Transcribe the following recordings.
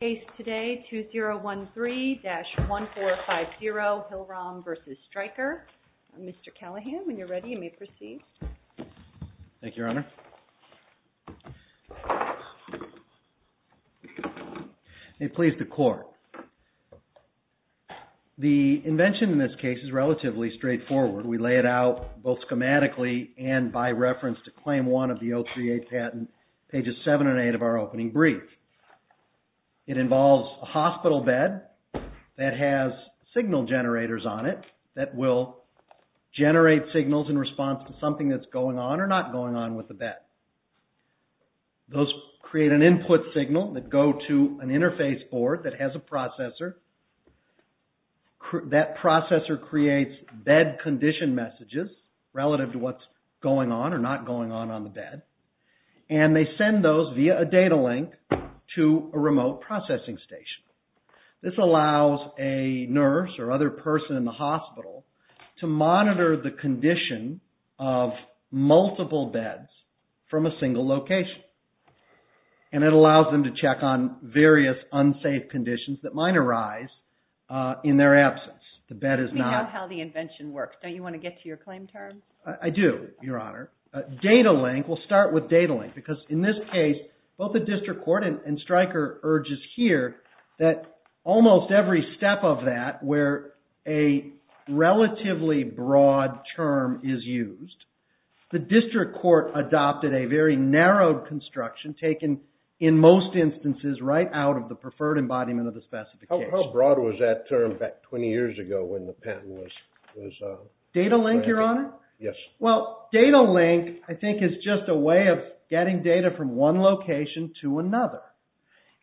Case today, 2013-1450 Hill-Rom v. Stryker. Mr. Callahan, when you're ready, you may proceed. Thank you, Your Honor. May it please the Court. The invention in this case is relatively straightforward. We lay it out both schematically and by reference to Claim 1 of the OCA patent, pages 7 and 8 of our opening brief. It involves a hospital bed that has signal generators on it that will generate signals in response to something that's going on or not going on with the bed. Those create an input signal that go to an interface board that has a processor. That processor creates bed condition messages relative to what's going on or not going on on the bed. And they send those via a data link to a remote processing station. This allows a nurse or other person in the hospital to monitor the condition of multiple beds from a single location. And it allows them to check on various unsafe conditions that might arise in their absence. We know how the invention works. Don't you want to get to your claim terms? I do, Your Honor. Data link, we'll start with data link because in this case, both the District Court and Stryker urges here that almost every step of that where a relatively broad term is used, the District Court adopted a very narrow construction taken in most instances right out of the preferred embodiment of the specification. How broad was that term back 20 years ago when the patent was... Data link, Your Honor? Yes. Well, data link, I think, is just a way of getting data from one location to another.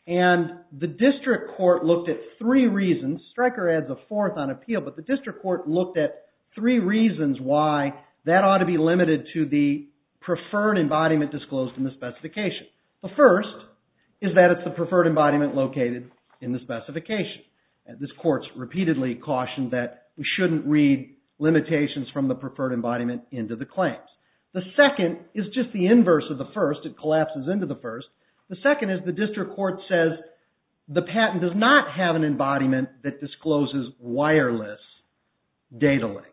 And the District Court looked at three reasons. Stryker adds a fourth on appeal, but the District Court looked at three reasons why that ought to be limited to the preferred embodiment disclosed in the specification. The first is that it's the preferred embodiment located in the specification. This court repeatedly cautioned that we shouldn't read limitations from the preferred embodiment into the claims. The second is just the inverse of the first. It collapses into the first. The second is the District Court says the patent does not have an embodiment that discloses wireless data links.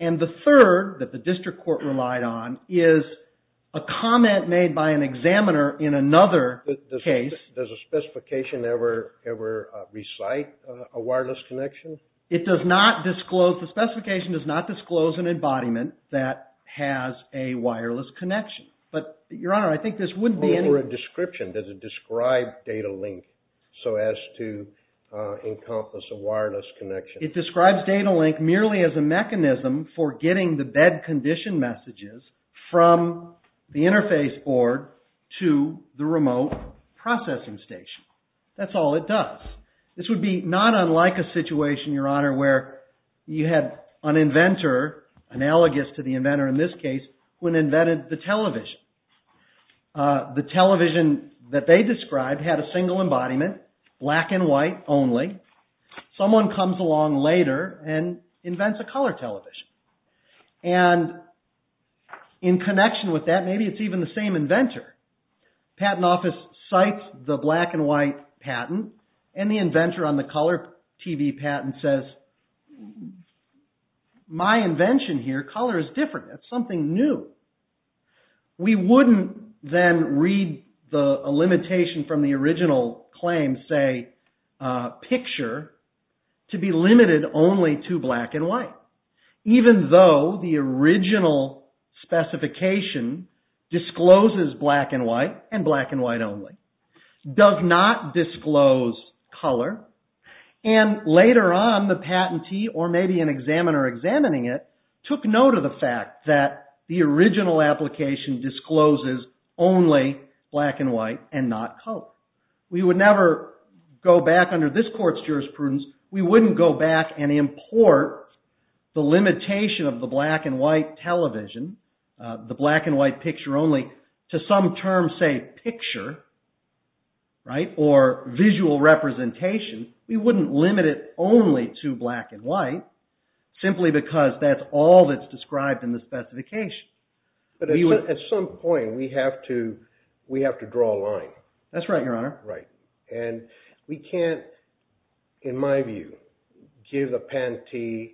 And the third that the District Court relied on is a comment made by an examiner in another case... Does a specification ever recite a wireless connection? It does not disclose... the specification does not disclose an embodiment that has a wireless connection. But, Your Honor, I think this wouldn't be any... Or a description. Does it describe data link so as to encompass a wireless connection? It describes data link merely as a mechanism for getting the bed condition messages from the interface board to the remote processing station. That's all it does. This would be not unlike a situation, Your Honor, where you had an inventor, analogous to the inventor in this case, who invented the television. The television that they described had a single embodiment, black and white only. Someone comes along later and invents a color television. And in connection with that, maybe it's even the same inventor. The patent office cites the black and white patent and the inventor on the color TV patent says, My invention here, color, is different. It's something new. We wouldn't then read a limitation from the original claim, say, picture, to be limited only to black and white. Even though the original specification discloses black and white and black and white only. Does not disclose color. And later on, the patentee or maybe an examiner examining it took note of the fact that the original application discloses only black and white and not color. We would never go back under this court's jurisprudence. We wouldn't go back and import the limitation of the black and white television, the black and white picture only, to some term, say, picture, or visual representation. We wouldn't limit it only to black and white, simply because that's all that's described in the specification. But at some point, we have to draw a line. That's right, Your Honor. And we can't, in my view, give the patentee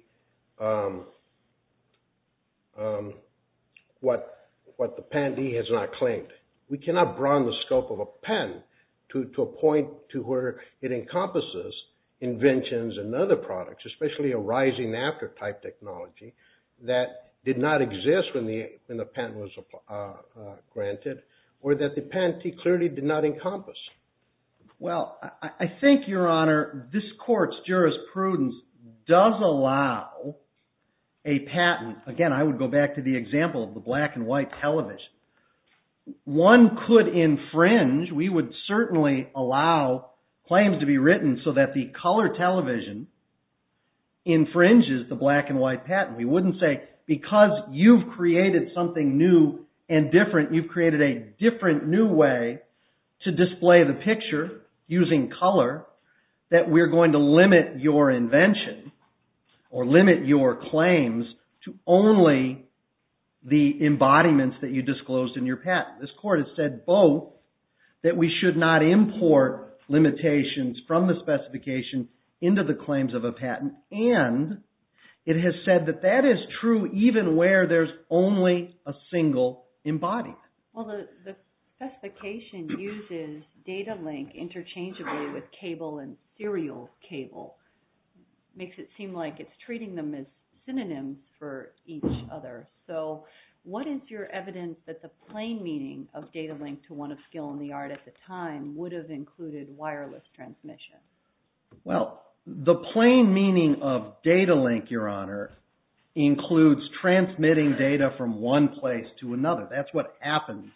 what the patentee has not claimed. We cannot broaden the scope of a patent to a point to where it encompasses inventions and other products, especially a rising after type technology that did not exist when the patent was granted or that the patentee clearly did not encompass. Well, I think, Your Honor, this court's jurisprudence does allow a patent. Again, I would go back to the example of the black and white television. One could infringe. We would certainly allow claims to be written so that the color television infringes the black and white patent. We wouldn't say, because you've created something new and different, you've created a different new way to display the picture using color, that we're going to limit your invention or limit your claims to only the embodiments that you disclosed in your patent. This court has said both, that we should not import limitations from the specification into the claims of a patent. And it has said that that is true even where there's only a single embodiment. Well, the specification uses data link interchangeably with cable and serial cable. Makes it seem like it's treating them as synonyms for each other. So what is your evidence that the plain meaning of data link to one of Skill and the Art at the time would have included wireless transmission? Well, the plain meaning of data link, Your Honor, includes transmitting data from one place to another. That's what happens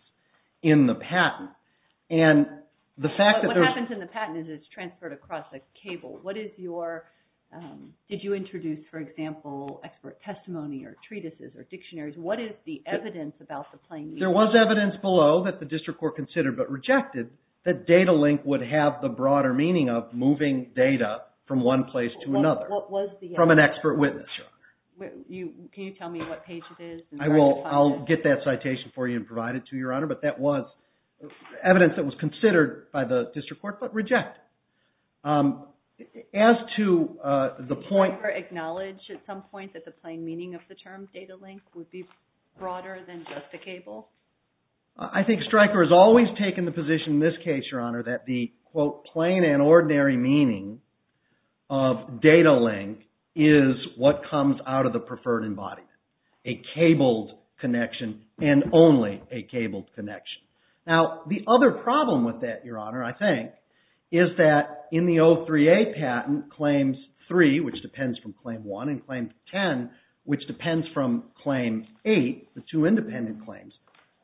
in the patent. What happens in the patent is it's transferred across a cable. Did you introduce, for example, expert testimony or treatises or dictionaries? What is the evidence about the plain meaning? There was evidence below that the district court considered but rejected that data link would have the broader meaning of moving data from one place to another. What was the evidence? From an expert witness, Your Honor. Can you tell me what page it is? Evidence that was considered by the district court but rejected. As to the point... Did Stryker acknowledge at some point that the plain meaning of the term data link would be broader than just a cable? I think Stryker has always taken the position in this case, Your Honor, that the, quote, plain and ordinary meaning of data link is what comes out of the preferred embodiment. A cabled connection and only a cabled connection. Now, the other problem with that, Your Honor, I think, is that in the 03A patent, Claims 3, which depends from Claim 1, and Claim 10, which depends from Claim 8, the two independent claims,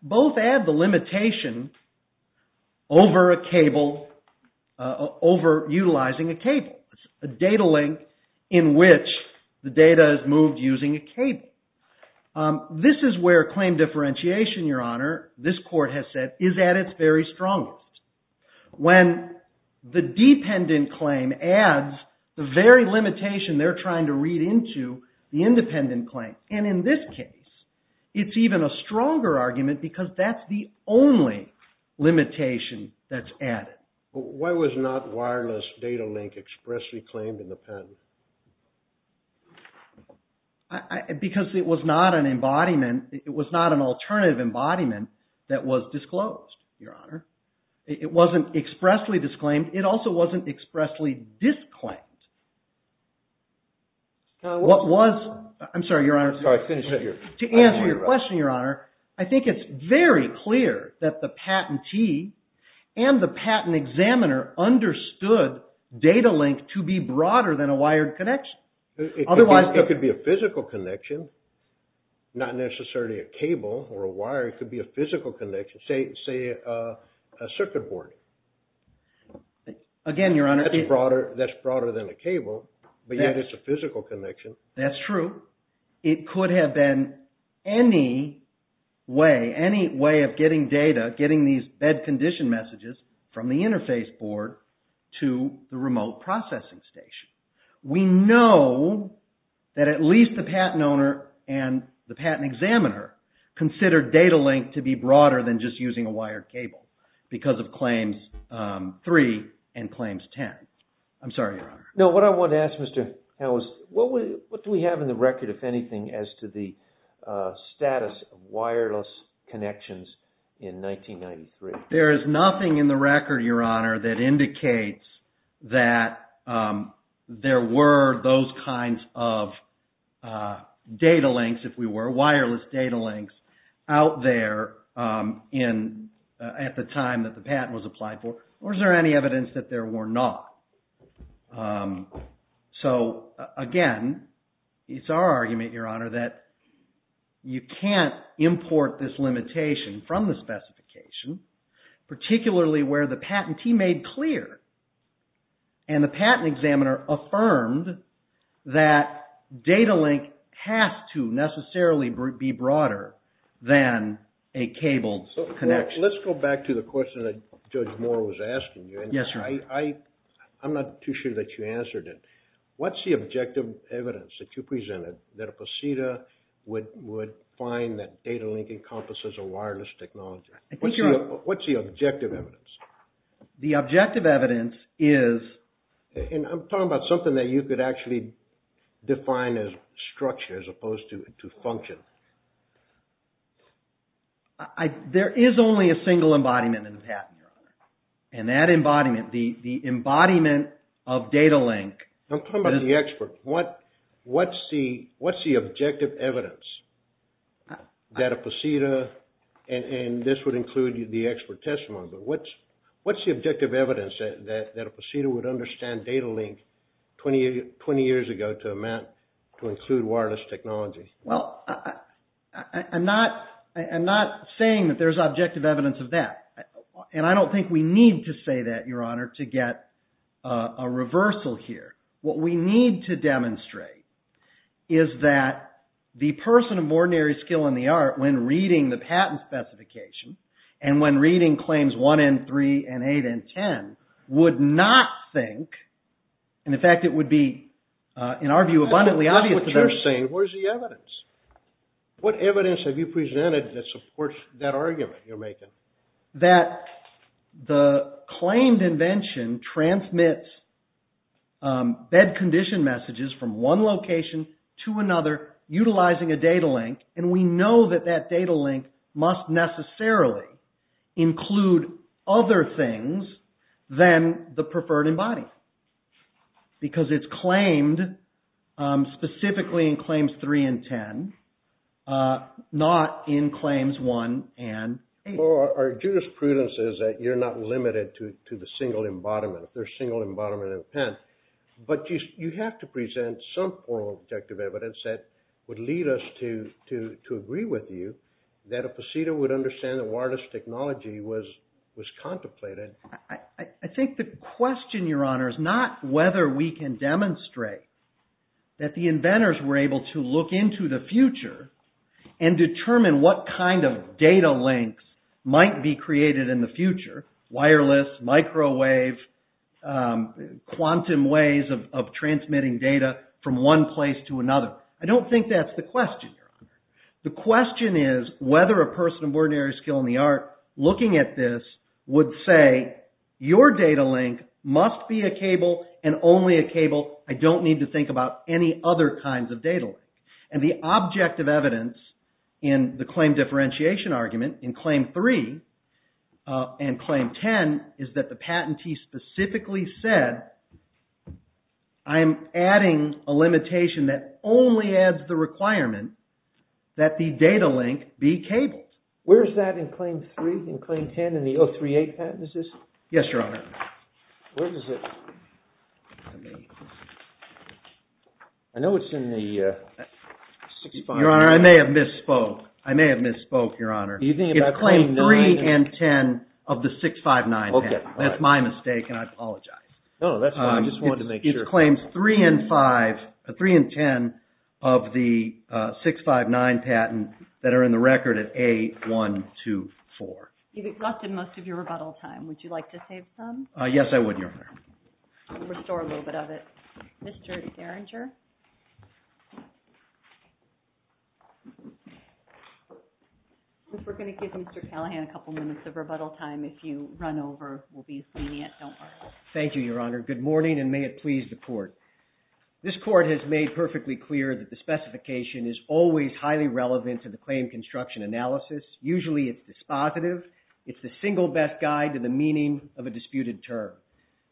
both add the limitation over a cable, over utilizing a cable. It's a data link in which the data is moved using a cable. This is where claim differentiation, Your Honor, this court has said, is at its very strongest. When the dependent claim adds the very limitation they're trying to read into the independent claim, and in this case, it's even a stronger argument because that's the only limitation that's added. Why was not wireless data link expressly claimed in the patent? Because it was not an embodiment, it was not an alternative embodiment that was disclosed, Your Honor. It wasn't expressly disclaimed. It also wasn't expressly disclaimed. To answer your question, Your Honor, I think it's very clear that the patentee and the patent examiner understood data link to be broader than a wired connection. It could be a physical connection, not necessarily a cable or a wire. It could be a physical connection, say a circuit board. Again, Your Honor, That's broader than a cable, but yet it's a physical connection. That's true. It could have been any way, any way of getting data, getting these bed condition messages from the interface board to the remote processing station. We know that at least the patent owner and the patent examiner considered data link to be broader than just using a wired cable because of Claims 3 and Claims 10. I'm sorry, Your Honor. No, what I want to ask, Mr. Howes, what do we have in the record, if anything, as to the status of wireless connections in 1993? There is nothing in the record, Your Honor, that indicates that there were those kinds of data links, if we were, wireless data links out there at the time that the patent was applied for. Or is there any evidence that there were not? So, again, it's our argument, Your Honor, that you can't import this limitation from the specification, particularly where the patentee made clear and the patent examiner affirmed that data link has to necessarily be broader than a cable connection. Let's go back to the question that Judge Moore was asking you. Yes, Your Honor. I'm not too sure that you answered it. What's the objective evidence that you presented that a ProCEDA would find that data link encompasses a wireless technology? What's the objective evidence? The objective evidence is... And I'm talking about something that you could actually define as structure as opposed to function. There is only a single embodiment in the patent, Your Honor. And that embodiment, the embodiment of data link... I'm talking about the expert. What's the objective evidence that a ProCEDA, and this would include the expert testimony, but what's the objective evidence that a ProCEDA would understand data link 20 years ago to include wireless technology? Well, I'm not saying that there's objective evidence of that. And I don't think we need to say that, Your Honor, to get a reversal here. What we need to demonstrate is that the person of ordinary skill in the art, when reading the patent specification, and when reading claims 1 and 3 and 8 and 10, would not think, and in fact it would be, in our view, abundantly obvious to them... What you're saying, where's the evidence? What evidence have you presented that supports that argument you're making? That the claimed invention transmits bed condition messages from one location to another utilizing a data link, and we know that that data link must necessarily include other things than the preferred embody. Because it's claimed specifically in claims 3 and 10, not in claims 1 and 8. So our jurisprudence is that you're not limited to the single embodiment, the single embodiment of the patent. But you have to present some form of objective evidence that would lead us to agree with you that a ProCEDA would understand that wireless technology was contemplated. I think the question, Your Honor, is not whether we can demonstrate that the inventors were able to look into the future and determine what kind of data links might be created in the future, wireless, microwave, quantum ways of transmitting data from one place to another. I don't think that's the question, Your Honor. The question is whether a person of ordinary skill in the art looking at this would say, Your data link must be a cable and only a cable. I don't need to think about any other kinds of data. And the objective evidence in the claim differentiation argument in claim 3 and claim 10 is that the patentee specifically said, I am adding a limitation that only adds the requirement that the data link be cabled. Where is that in claim 3 and claim 10 in the 038 patent? Yes, Your Honor. I know it's in the 659. Your Honor, I may have misspoke. I may have misspoke, Your Honor. It's claim 3 and 10 of the 659 patent. That's my mistake, and I apologize. No, that's fine. I just wanted to make sure. It's claims 3 and 10 of the 659 patent that are in the record at A124. You've exhausted most of your rebuttal time. Would you like to save some? Yes, I would, Your Honor. Restore a little bit of it. Mr. Derringer. We're going to give Mr. Callahan a couple minutes of rebuttal time. If you run over, we'll be lenient. Don't worry. Thank you, Your Honor. Good morning, and may it please the court. This court has made perfectly clear that the specification is always highly relevant to the claim construction analysis. Usually, it's dispositive. It's the single best guide to the meaning of a disputed term.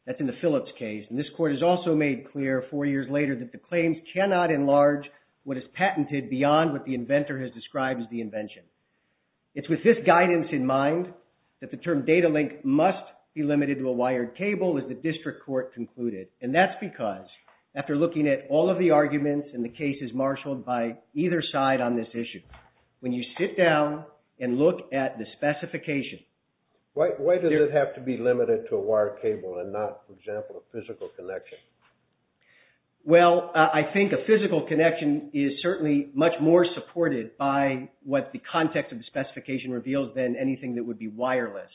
That's in the Phillips case. And this court has also made clear four years later that the claims cannot enlarge what is patented beyond what the inventor has described as the invention. It's with this guidance in mind that the term data link must be limited to a wired cable, as the district court concluded. And that's because, after looking at all of the arguments and the cases marshaled by either side on this issue, when you sit down and look at the specification. Why does it have to be limited to a wired cable and not, for example, a physical connection? Well, I think a physical connection is certainly much more supported by what the context of the specification reveals than anything that would be wireless.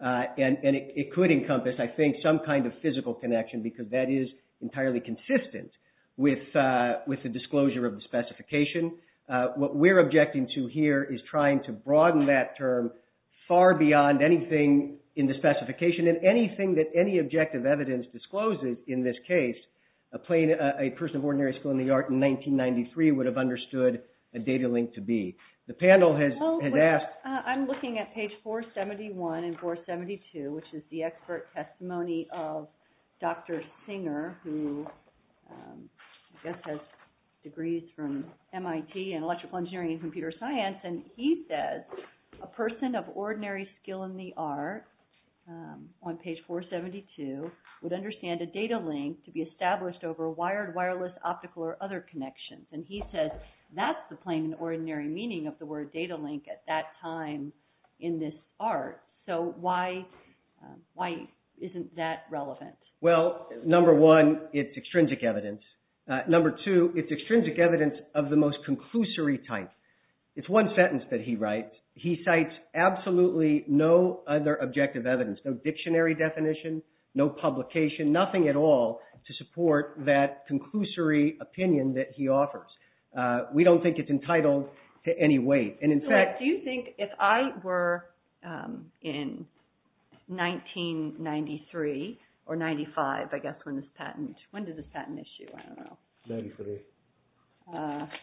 And it could encompass, I think, some kind of physical connection, because that is entirely consistent with the disclosure of the specification. What we're objecting to here is trying to broaden that term far beyond anything in the specification. And anything that any objective evidence discloses in this case, a person of ordinary skill in the art in 1993 would have understood a data link to be. I'm looking at page 471 and 472, which is the expert testimony of Dr. Singer, who has degrees from MIT in electrical engineering and computer science. And he says, a person of ordinary skill in the art, on page 472, would understand a data link to be established over wired, wireless, optical, or other connections. And he says that's the plain and ordinary meaning of the word data link at that time in this art. So why isn't that relevant? Well, number one, it's extrinsic evidence. Number two, it's extrinsic evidence of the most conclusory type. It's one sentence that he writes. He cites absolutely no other objective evidence, no dictionary definition, no publication, nothing at all to support that conclusory opinion that he offers. We don't think it's entitled to any weight. And in fact— Do you think if I were in 1993 or 95, I guess, when this patent—when did this patent issue? I don't know. Ninety-three.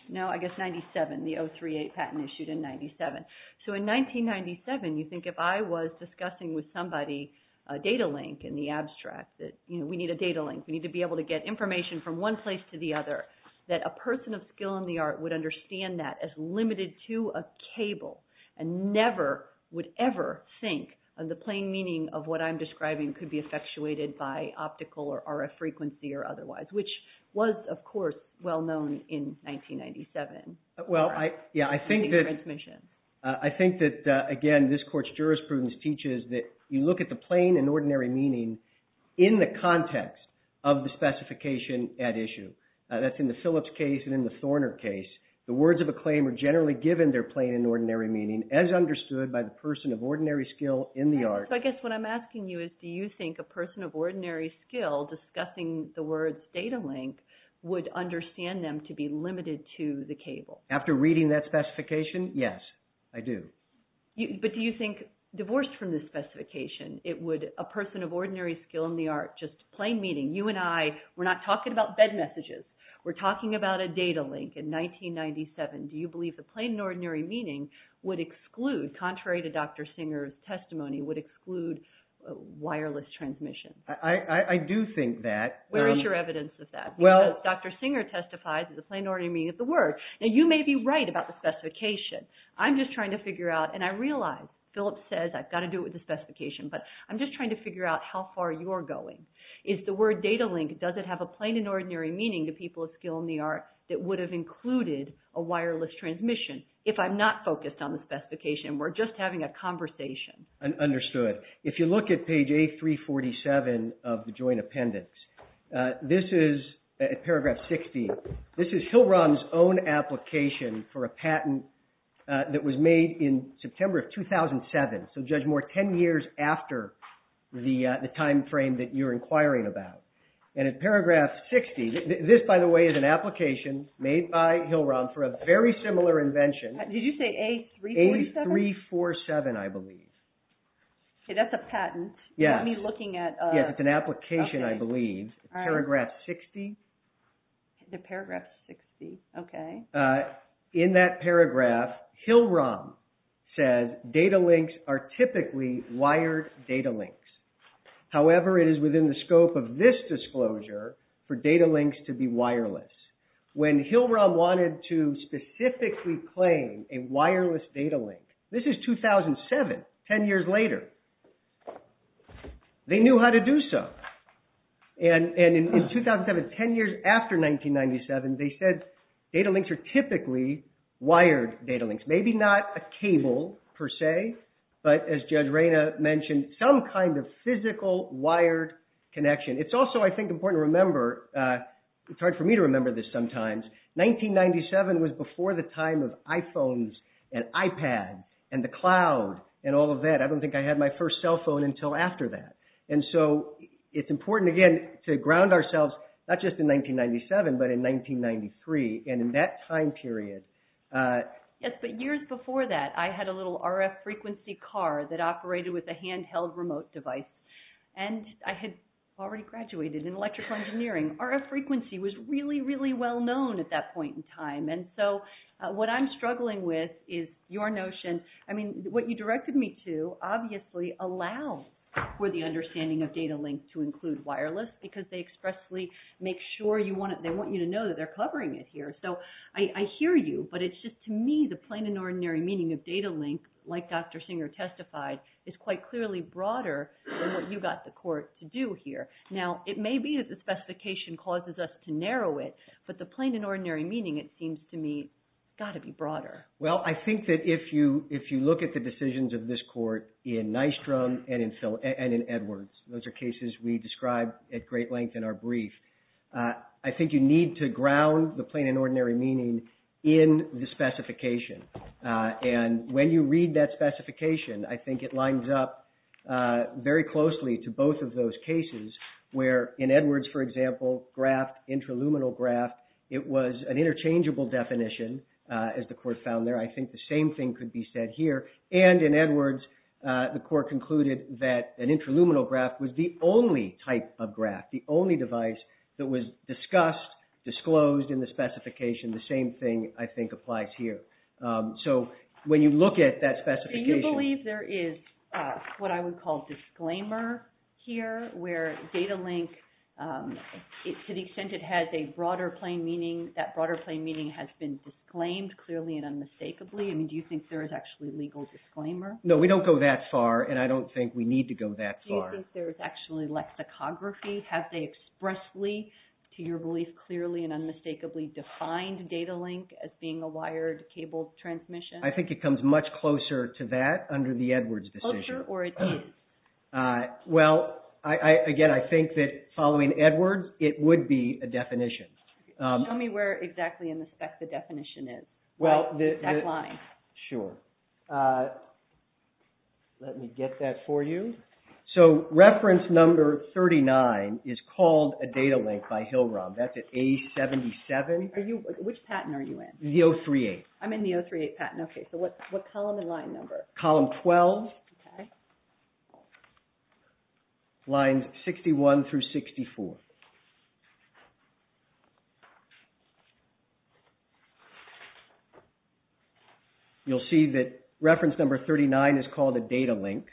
No, I guess 97. The 038 patent issued in 97. So in 1997, you think if I was discussing with somebody a data link in the abstract that, you know, we need a data link. We need to be able to get information from one place to the other, that a person of skill in the art would understand that as limited to a cable and never would ever think of the plain meaning of what I'm describing could be effectuated by optical or RF frequency or otherwise, which was, of course, well-known in 1997. Well, I think that, again, this court's jurisprudence teaches that you look at the plain and ordinary meaning in the context of the specification at issue. That's in the Phillips case and in the Thorner case. The words of a claim are generally given their plain and ordinary meaning as understood by the person of ordinary skill in the art. So I guess what I'm asking you is do you think a person of ordinary skill discussing the words data link would understand them to be limited to the cable? After reading that specification, yes, I do. But do you think divorced from the specification, it would a person of ordinary skill in the art, just plain meaning, you and I, we're not talking about bed messages. We're talking about a data link in 1997. Do you believe the plain and ordinary meaning would exclude, contrary to Dr. Singer's testimony, would exclude wireless transmission? I do think that. Where is your evidence of that? Well, Dr. Singer testifies that the plain and ordinary meaning of the word. Now, you may be right about the specification. I'm just trying to figure out, and I realize Phillips says I've got to do it with the specification, but I'm just trying to figure out how far you're going. Is the word data link, does it have a plain and ordinary meaning to people of skill in the art that would have included a wireless transmission? If I'm not focused on the specification, we're just having a conversation. Understood. If you look at page A347 of the joint appendix, this is paragraph 60. This is Hillrun's own application for a patent that was made in September of 2007. So, Judge Moore, 10 years after the timeframe that you're inquiring about. And in paragraph 60, this, by the way, is an application made by Hillrun for a very similar invention. Did you say A347? A347, I believe. Okay, that's a patent. Yes. You're looking at a… Yes, it's an application, I believe. All right. Paragraph 60. The paragraph 60. Okay. In that paragraph, Hillrun says data links are typically wired data links. However, it is within the scope of this disclosure for data links to be wireless. When Hillrun wanted to specifically claim a wireless data link, this is 2007, 10 years later. They knew how to do so. And in 2007, 10 years after 1997, they said data links are typically wired data links. Maybe not a cable, per se, but as Judge Reyna mentioned, some kind of physical wired connection. It's also, I think, important to remember, it's hard for me to remember this sometimes, 1997 was before the time of iPhones and iPads and the cloud and all of that. I don't think I had my first cell phone until after that. And so, it's important, again, to ground ourselves not just in 1997, but in 1993. And in that time period… Yes, but years before that, I had a little RF frequency car that operated with a handheld remote device. And I had already graduated in electrical engineering. RF frequency was really, really well known at that point in time. And so, what I'm struggling with is your notion… I mean, what you directed me to, obviously, allow for the understanding of data links to include wireless, because they expressly make sure you want it, they want you to know that they're covering it here. So, I hear you, but it's just, to me, the plain and ordinary meaning of data link, like Dr. Singer testified, is quite clearly broader than what you got the court to do here. Now, it may be that the specification causes us to narrow it, but the plain and ordinary meaning, it seems to me, has got to be broader. Well, I think that if you look at the decisions of this court in Nystrom and in Edwards, those are cases we described at great length in our brief, I think you need to ground the plain and ordinary meaning in the specification. And when you read that specification, I think it lines up very closely to both of those cases where, in Edwards, for example, graft, intraluminal graft, it was an interchangeable definition, as the court found there. I think the same thing could be said here. And in Edwards, the court concluded that an intraluminal graft was the only type of graft, the only device that was discussed, disclosed in the specification. The same thing, I think, applies here. So, when you look at that specification... Do you believe there is what I would call disclaimer here, where data link, to the extent it has a broader plain meaning, that broader plain meaning has been disclaimed clearly and unmistakably? I mean, do you think there is actually legal disclaimer? No, we don't go that far, and I don't think we need to go that far. Do you think there is actually lexicography? Have they expressly, to your belief, clearly and unmistakably defined data link as being a wired cable transmission? I think it comes much closer to that under the Edwards decision. Closer, or it is? Well, again, I think that following Edwards, it would be a definition. Tell me where exactly in the spec the definition is. The exact line. Sure. Let me get that for you. So, reference number 39 is called a data link by Hill-Rom. That's at A77. Which patent are you in? The 038. I'm in the 038 patent. Okay, so what column and line number? Column 12. Okay. Lines 61 through 64. You'll see that reference number 39 is called a data link.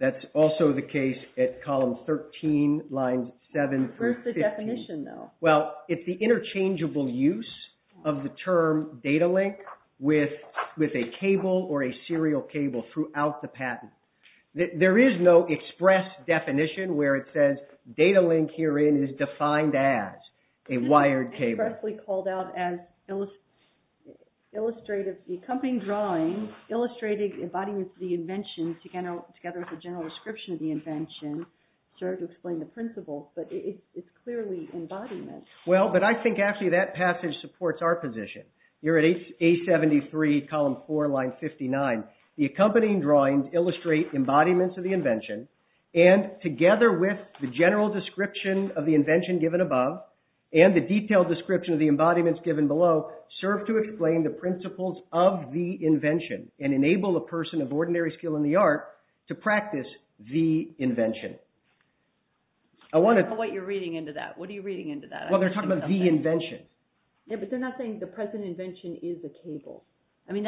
That's also the case at column 13, lines 7 through 15. Where is the definition, though? Well, it's the interchangeable use of the term data link with a cable or a serial cable throughout the patent. There is no express definition where it says data link herein is defined as a wired cable. It's expressly called out as illustrative. The accompanying drawing illustrated embodiments of the invention together with a general description of the invention serve to explain the principles, but it's clearly embodiment. Well, but I think actually that passage supports our position. You're at A73, column 4, line 59. The accompanying drawings illustrate embodiments of the invention and together with the general description of the invention given above and the detailed description of the embodiments given below serve to explain the principles of the invention and enable a person of ordinary skill in the art to practice the invention. I don't know what you're reading into that. What are you reading into that? Well, they're talking about the invention. Yeah, but they're not saying the present invention is a cable. I mean,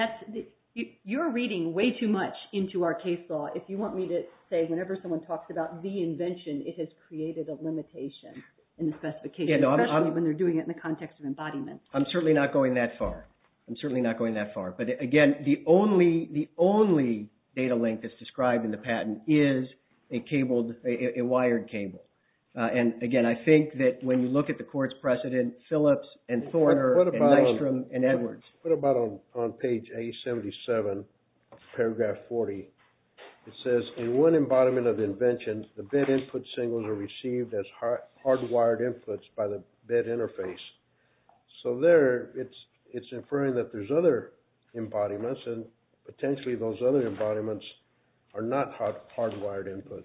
you're reading way too much into our case law. If you want me to say whenever someone talks about the invention, it has created a limitation in the specification, especially when they're doing it in the context of embodiment. I'm certainly not going that far. I'm certainly not going that far. But again, the only data link that's described in the patent is a wired cable. And again, I think that when you look at the court's precedent, Phillips and Thorner and Nystrom and Edwards. What about on page A77, paragraph 40? It says, in one embodiment of invention, the bid input signals are received as hardwired inputs by the bid interface. So there, it's inferring that there's other embodiments. And potentially, those other embodiments are not hardwired inputs.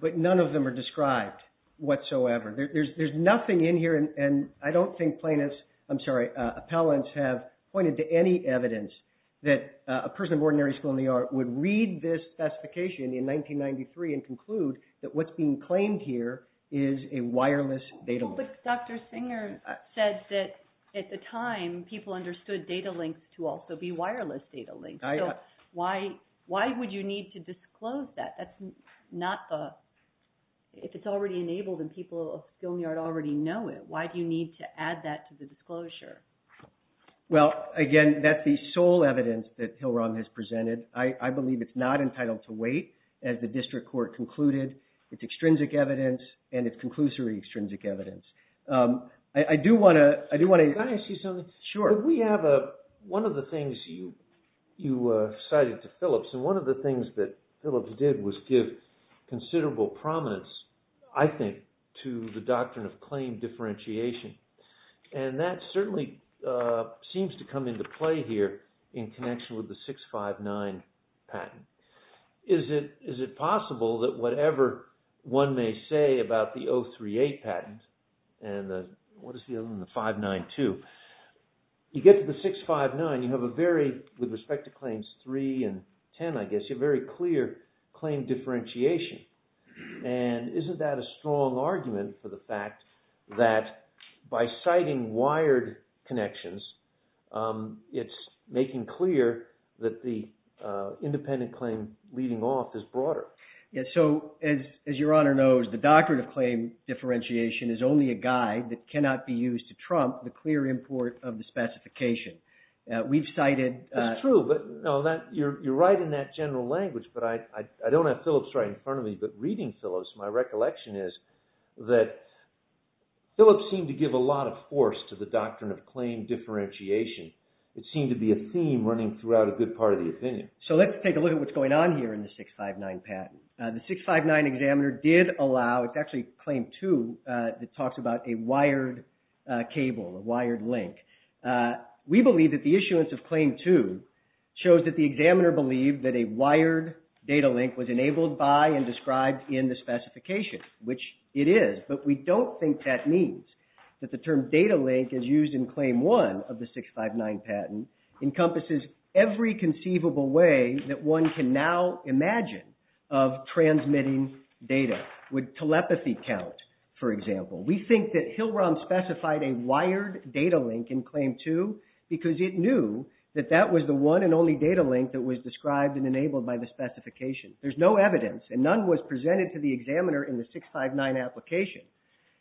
But none of them are described whatsoever. There's nothing in here. And I don't think plaintiffs, I'm sorry, appellants have pointed to any evidence that a person of ordinary skill in the art would read this specification in 1993 and conclude that what's being claimed here is a wireless data link. Well, but Dr. Singer says that at the time, people understood data links to also be wireless data links. So why would you need to disclose that? That's not the, if it's already enabled and people of skill in the art already know it, why do you need to add that to the disclosure? Well, again, that's the sole evidence that Hillrong has presented. I believe it's not entitled to wait. As the district court concluded, it's extrinsic evidence and it's conclusory extrinsic evidence. I do want to ask you something. Sure. We have a, one of the things you cited to Phillips, and one of the things that Phillips did was give considerable prominence, I think, to the doctrine of claim differentiation. And that certainly seems to come into play here in connection with the 659 patent. Is it possible that whatever one may say about the 038 patent and the, what is the other one? The 592. You get to the 659, you have a very, with respect to claims three and 10, I guess, you have very clear claim differentiation. And isn't that a strong argument for the fact that by citing wired connections, it's making clear that the independent claim leading off is broader. So, as your honor knows, the doctrine of claim differentiation is only a guide that cannot be used to trump the clear import of the specification. We've cited- That's true, but no, you're right in that general language. But I don't have Phillips right in front of me, but reading Phillips, my recollection is that Phillips seemed to give a lot of force to the doctrine of claim differentiation. It seemed to be a theme running throughout a good part of the opinion. So, let's take a look at what's going on here in the 659 patent. The 659 examiner did allow, it's actually claim two that talks about a wired cable, a wired link. We believe that the issuance of claim two shows that the examiner believed that a wired data link was enabled by and described in the specification, which it is. But we don't think that means that the term data link is used in claim one of the 659 patent encompasses every conceivable way that one can now imagine of transmitting data. Would telepathy count, for example? We think that Hillrom specified a wired data link in claim two because it knew that that was the one and only data link that was described and enabled by the specification. There's no evidence, and none was presented to the examiner in the 659 application,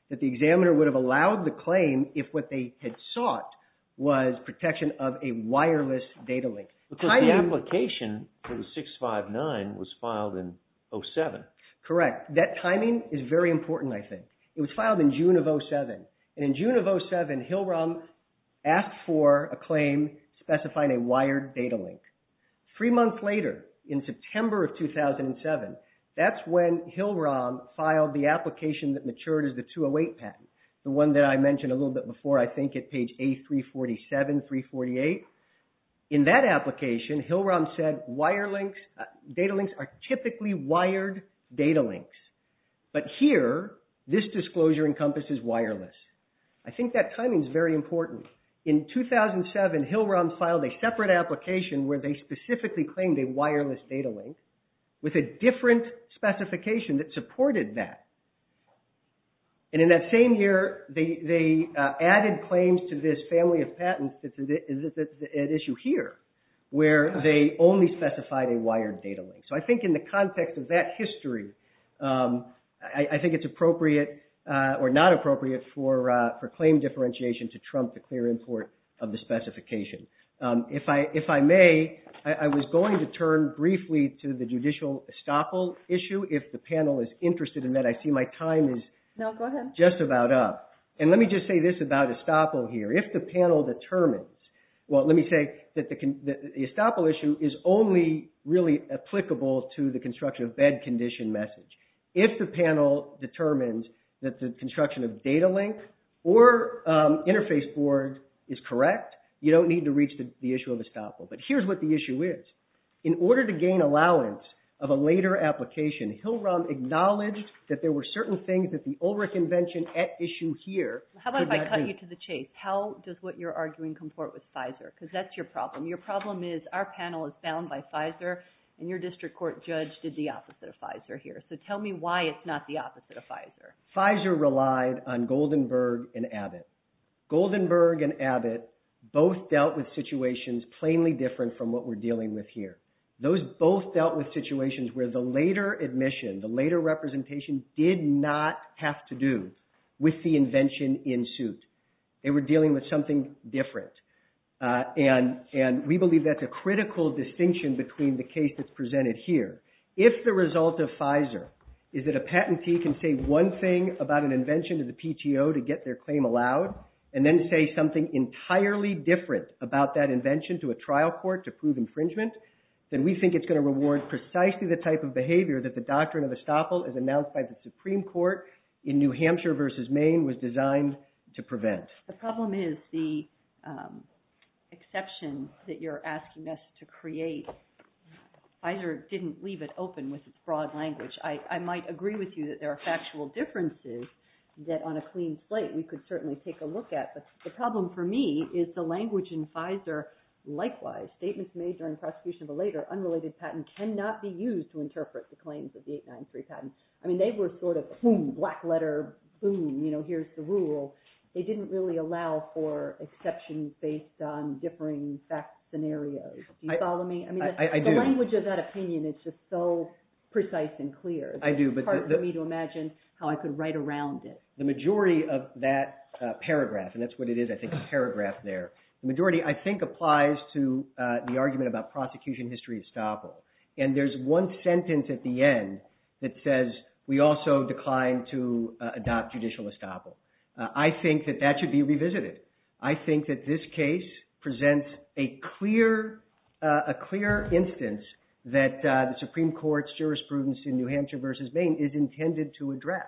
that the examiner would have allowed the claim if what they had sought was protection of a wireless data link. Because the application for the 659 was filed in 07. Correct. That timing is very important, I think. It was filed in June of 07. And in June of 07, Hillrom asked for a claim specifying a wired data link. Three months later, in September of 2007, that's when Hillrom filed the application that matured as the 208 patent, the one that I mentioned a little bit before, I think, at page A347, 348. In that application, Hillrom said data links are typically wired data links. But here, this disclosure encompasses wireless. I think that timing is very important. In 2007, Hillrom filed a separate application where they specifically claimed a wireless data link with a different specification that supported that. And in that same year, they added claims to this family of patents that's at issue here, where they only specified a wired data link. So I think in the context of that history, I think it's appropriate, or not appropriate, for claim differentiation to trump the clear import of the specification. If I may, I was going to turn briefly to the judicial estoppel issue, if the panel is interested in that. I see my time is just about up. And let me just say this about estoppel here. If the panel determines, well, let me say that the estoppel issue is only really applicable to the construction of bed condition message. If the panel determines that the construction of data link or interface board is correct, you don't need to reach the issue of estoppel. But here's what the issue is. In order to gain allowance of a later application, Hillrom acknowledged that there were certain things that the Ulrich Invention at issue here could not do. How about if I cut you to the chase? How does what you're arguing comport with Pfizer? Because that's your problem. Your problem is our panel is bound by Pfizer, and your district court judge did the opposite of Pfizer here. So tell me why it's not the opposite of Pfizer. Pfizer relied on Goldenberg and Abbott. Goldenberg and Abbott both dealt with situations plainly different from what we're dealing with here. Those both dealt with situations where the later admission, the later representation, did not have to do with the invention in suit. They were dealing with something different. And we believe that's a critical distinction between the case that's presented here. If the result of Pfizer is that a patentee can say one thing about an invention to the PTO to get their claim allowed, and then say something entirely different about that invention to a trial court to prove infringement, then we think it's going to reward precisely the type of behavior that the doctrine of estoppel as announced by the Supreme Court in New Hampshire versus Maine was designed to prevent. The problem is the exception that you're asking us to create. Pfizer didn't leave it open with its broad language. I might agree with you that there are factual differences that on a clean slate we could certainly take a look at. But the problem for me is the language in Pfizer. Likewise, statements made during prosecution of a later unrelated patent cannot be used to interpret the claims of the 893 patent. I mean, they were sort of, boom, black letter, boom, you know, here's the rule. They didn't really allow for exceptions based on differing fact scenarios. Do you follow me? I do. I mean, the language of that opinion is just so precise and clear. I do. It's hard for me to imagine how I could write around it. The majority of that paragraph, and that's what it is, I think, a paragraph there. The majority, I think, applies to the argument about prosecution history estoppel. And there's one sentence at the end that says we also declined to adopt judicial estoppel. I think that that should be revisited. I think that this case presents a clear instance that the Supreme Court's jurisprudence in New Hampshire versus Maine is intended to address.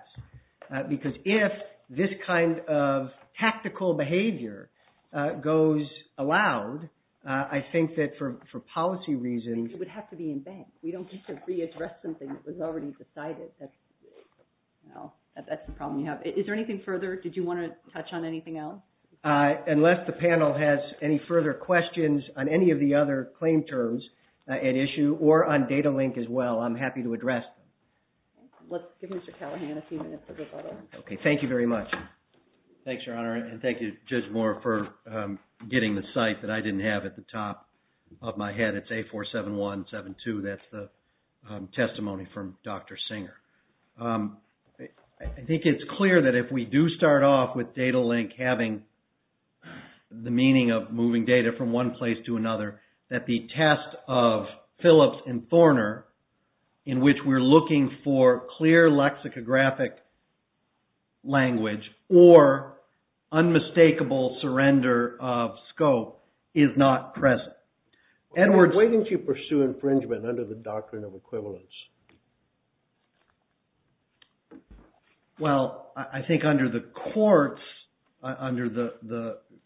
Because if this kind of tactical behavior goes aloud, I think that for policy reasons I think it would have to be in vain. We don't need to readdress something that was already decided. That's the problem you have. Is there anything further? Did you want to touch on anything else? Unless the panel has any further questions on any of the other claim terms at issue or on data link as well, I'm happy to address them. Let's give Mr. Callahan a few minutes for rebuttal. Thank you very much. Thanks, Your Honor. And thank you, Judge Moore, for getting the cite that I didn't have at the top of my head. It's A47172. That's the testimony from Dr. Singer. I think it's clear that if we do start off with data link having the meaning of moving data from one place to another, that the test of Phillips and Thorner in which we're looking for clear lexicographic language or unmistakable surrender of scope is not present. Edwards. Why didn't you pursue infringement under the doctrine of equivalence? Well, I think under the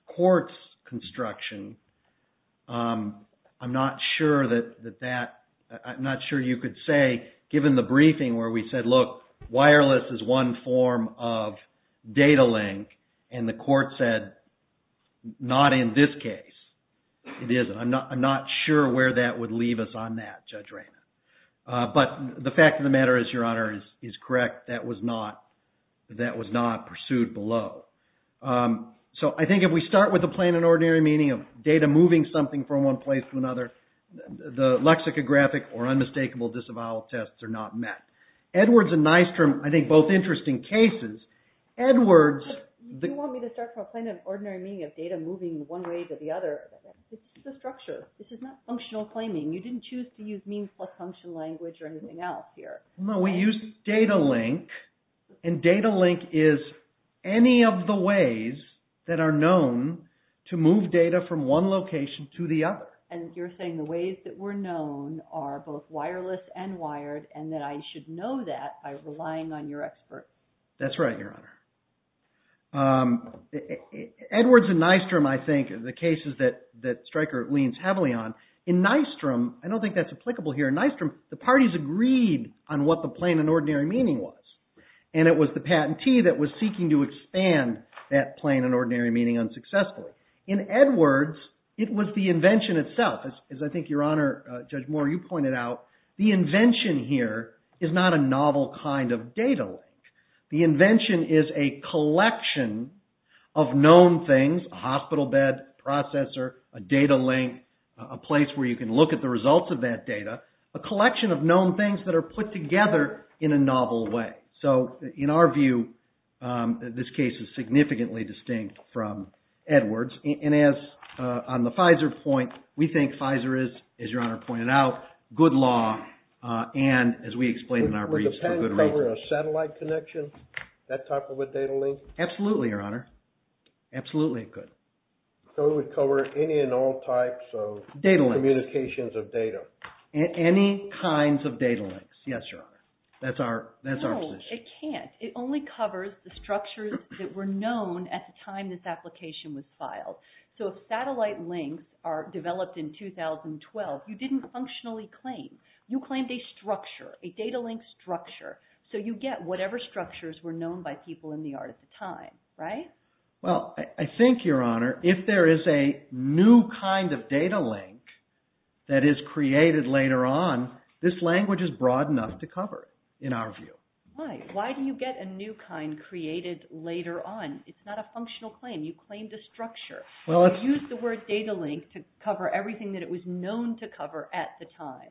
court's construction, I'm not sure that that... I'm not sure you could say, given the briefing where we said, look, wireless is one form of data link, and the court said not in this case. It isn't. I'm not sure where that would leave us on that, Judge Raymond. But the fact of the matter is, Your Honor, is correct. That was not pursued below. So I think if we start with the plain and ordinary meaning of data moving something from one place to another, the lexicographic or unmistakable disavowal tests are not met. Edwards and Nystrom, I think both interesting cases. Edwards... You want me to start from a plain and ordinary meaning of data moving one way to the other. This is the structure. This is not functional claiming. You didn't choose to use means plus function language or anything else here. No, we used data link. And data link is any of the ways that are known to move data from one location to the other. And you're saying the ways that were known are both wireless and wired, and that I should know that by relying on your expert. That's right, Your Honor. Edwards and Nystrom, I think, are the cases that Stryker leans heavily on. In Nystrom, I don't think that's applicable here. In Nystrom, the parties agreed on what the plain and ordinary meaning was, and it was the patentee that was seeking to expand that plain and ordinary meaning unsuccessfully. In Edwards, it was the invention itself. As I think Your Honor, Judge Moore, you pointed out, the invention here is not a novel kind of data link. It's a place where you can look at the results of that data, a collection of known things that are put together in a novel way. So, in our view, this case is significantly distinct from Edwards. And as on the Pfizer point, we think Pfizer is, as Your Honor pointed out, good law, and as we explained in our briefs, for good reason. Was the patent covering a satellite connection, that type of a data link? Absolutely, Your Honor. Absolutely, it could. So it would cover any and all types of... Data links. ...communications of data. Any kinds of data links. Yes, Your Honor. That's our position. No, it can't. It only covers the structures that were known at the time this application was filed. So if satellite links are developed in 2012, you didn't functionally claim. You claimed a structure, a data link structure. So you get whatever structures were known by people in the art at the time, right? Well, I think, Your Honor, if there is a new kind of data link that is created later on, this language is broad enough to cover it, in our view. Why? Why do you get a new kind created later on? It's not a functional claim. You claimed a structure. Well, it's... You used the word data link to cover everything that it was known to cover at the time.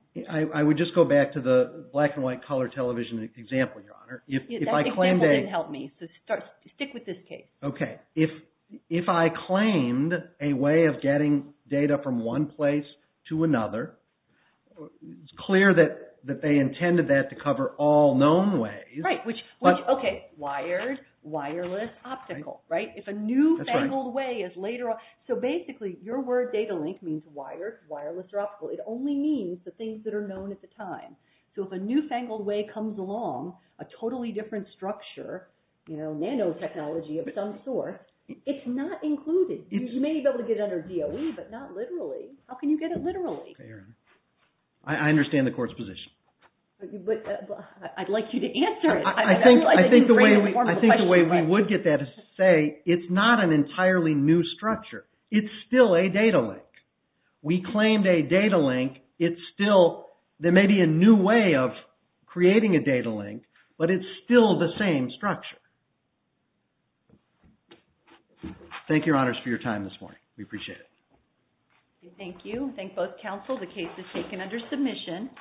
I would just go back to the black and white color television example, Your Honor. That example didn't help me, so stick with this case. Okay. If I claimed a way of getting data from one place to another, it's clear that they intended that to cover all known ways. Right. Okay. Wired, wireless, optical, right? If a new fangled way is later on... So basically, your word data link means wired, wireless, or optical. It only means the things that are known at the time. So if a new fangled way comes along, a totally different structure, you know, nanotechnology of some sort, it's not included. You may be able to get it under DOE, but not literally. How can you get it literally? Okay, Your Honor. I understand the court's position. But I'd like you to answer it. I think the way we would get that is to say it's not an entirely new structure. It's still a data link. We claimed a data link. It's still... Thank you, Your Honors, for your time this morning. We appreciate it. Thank you. Thank both counsel. The case is taken under submission.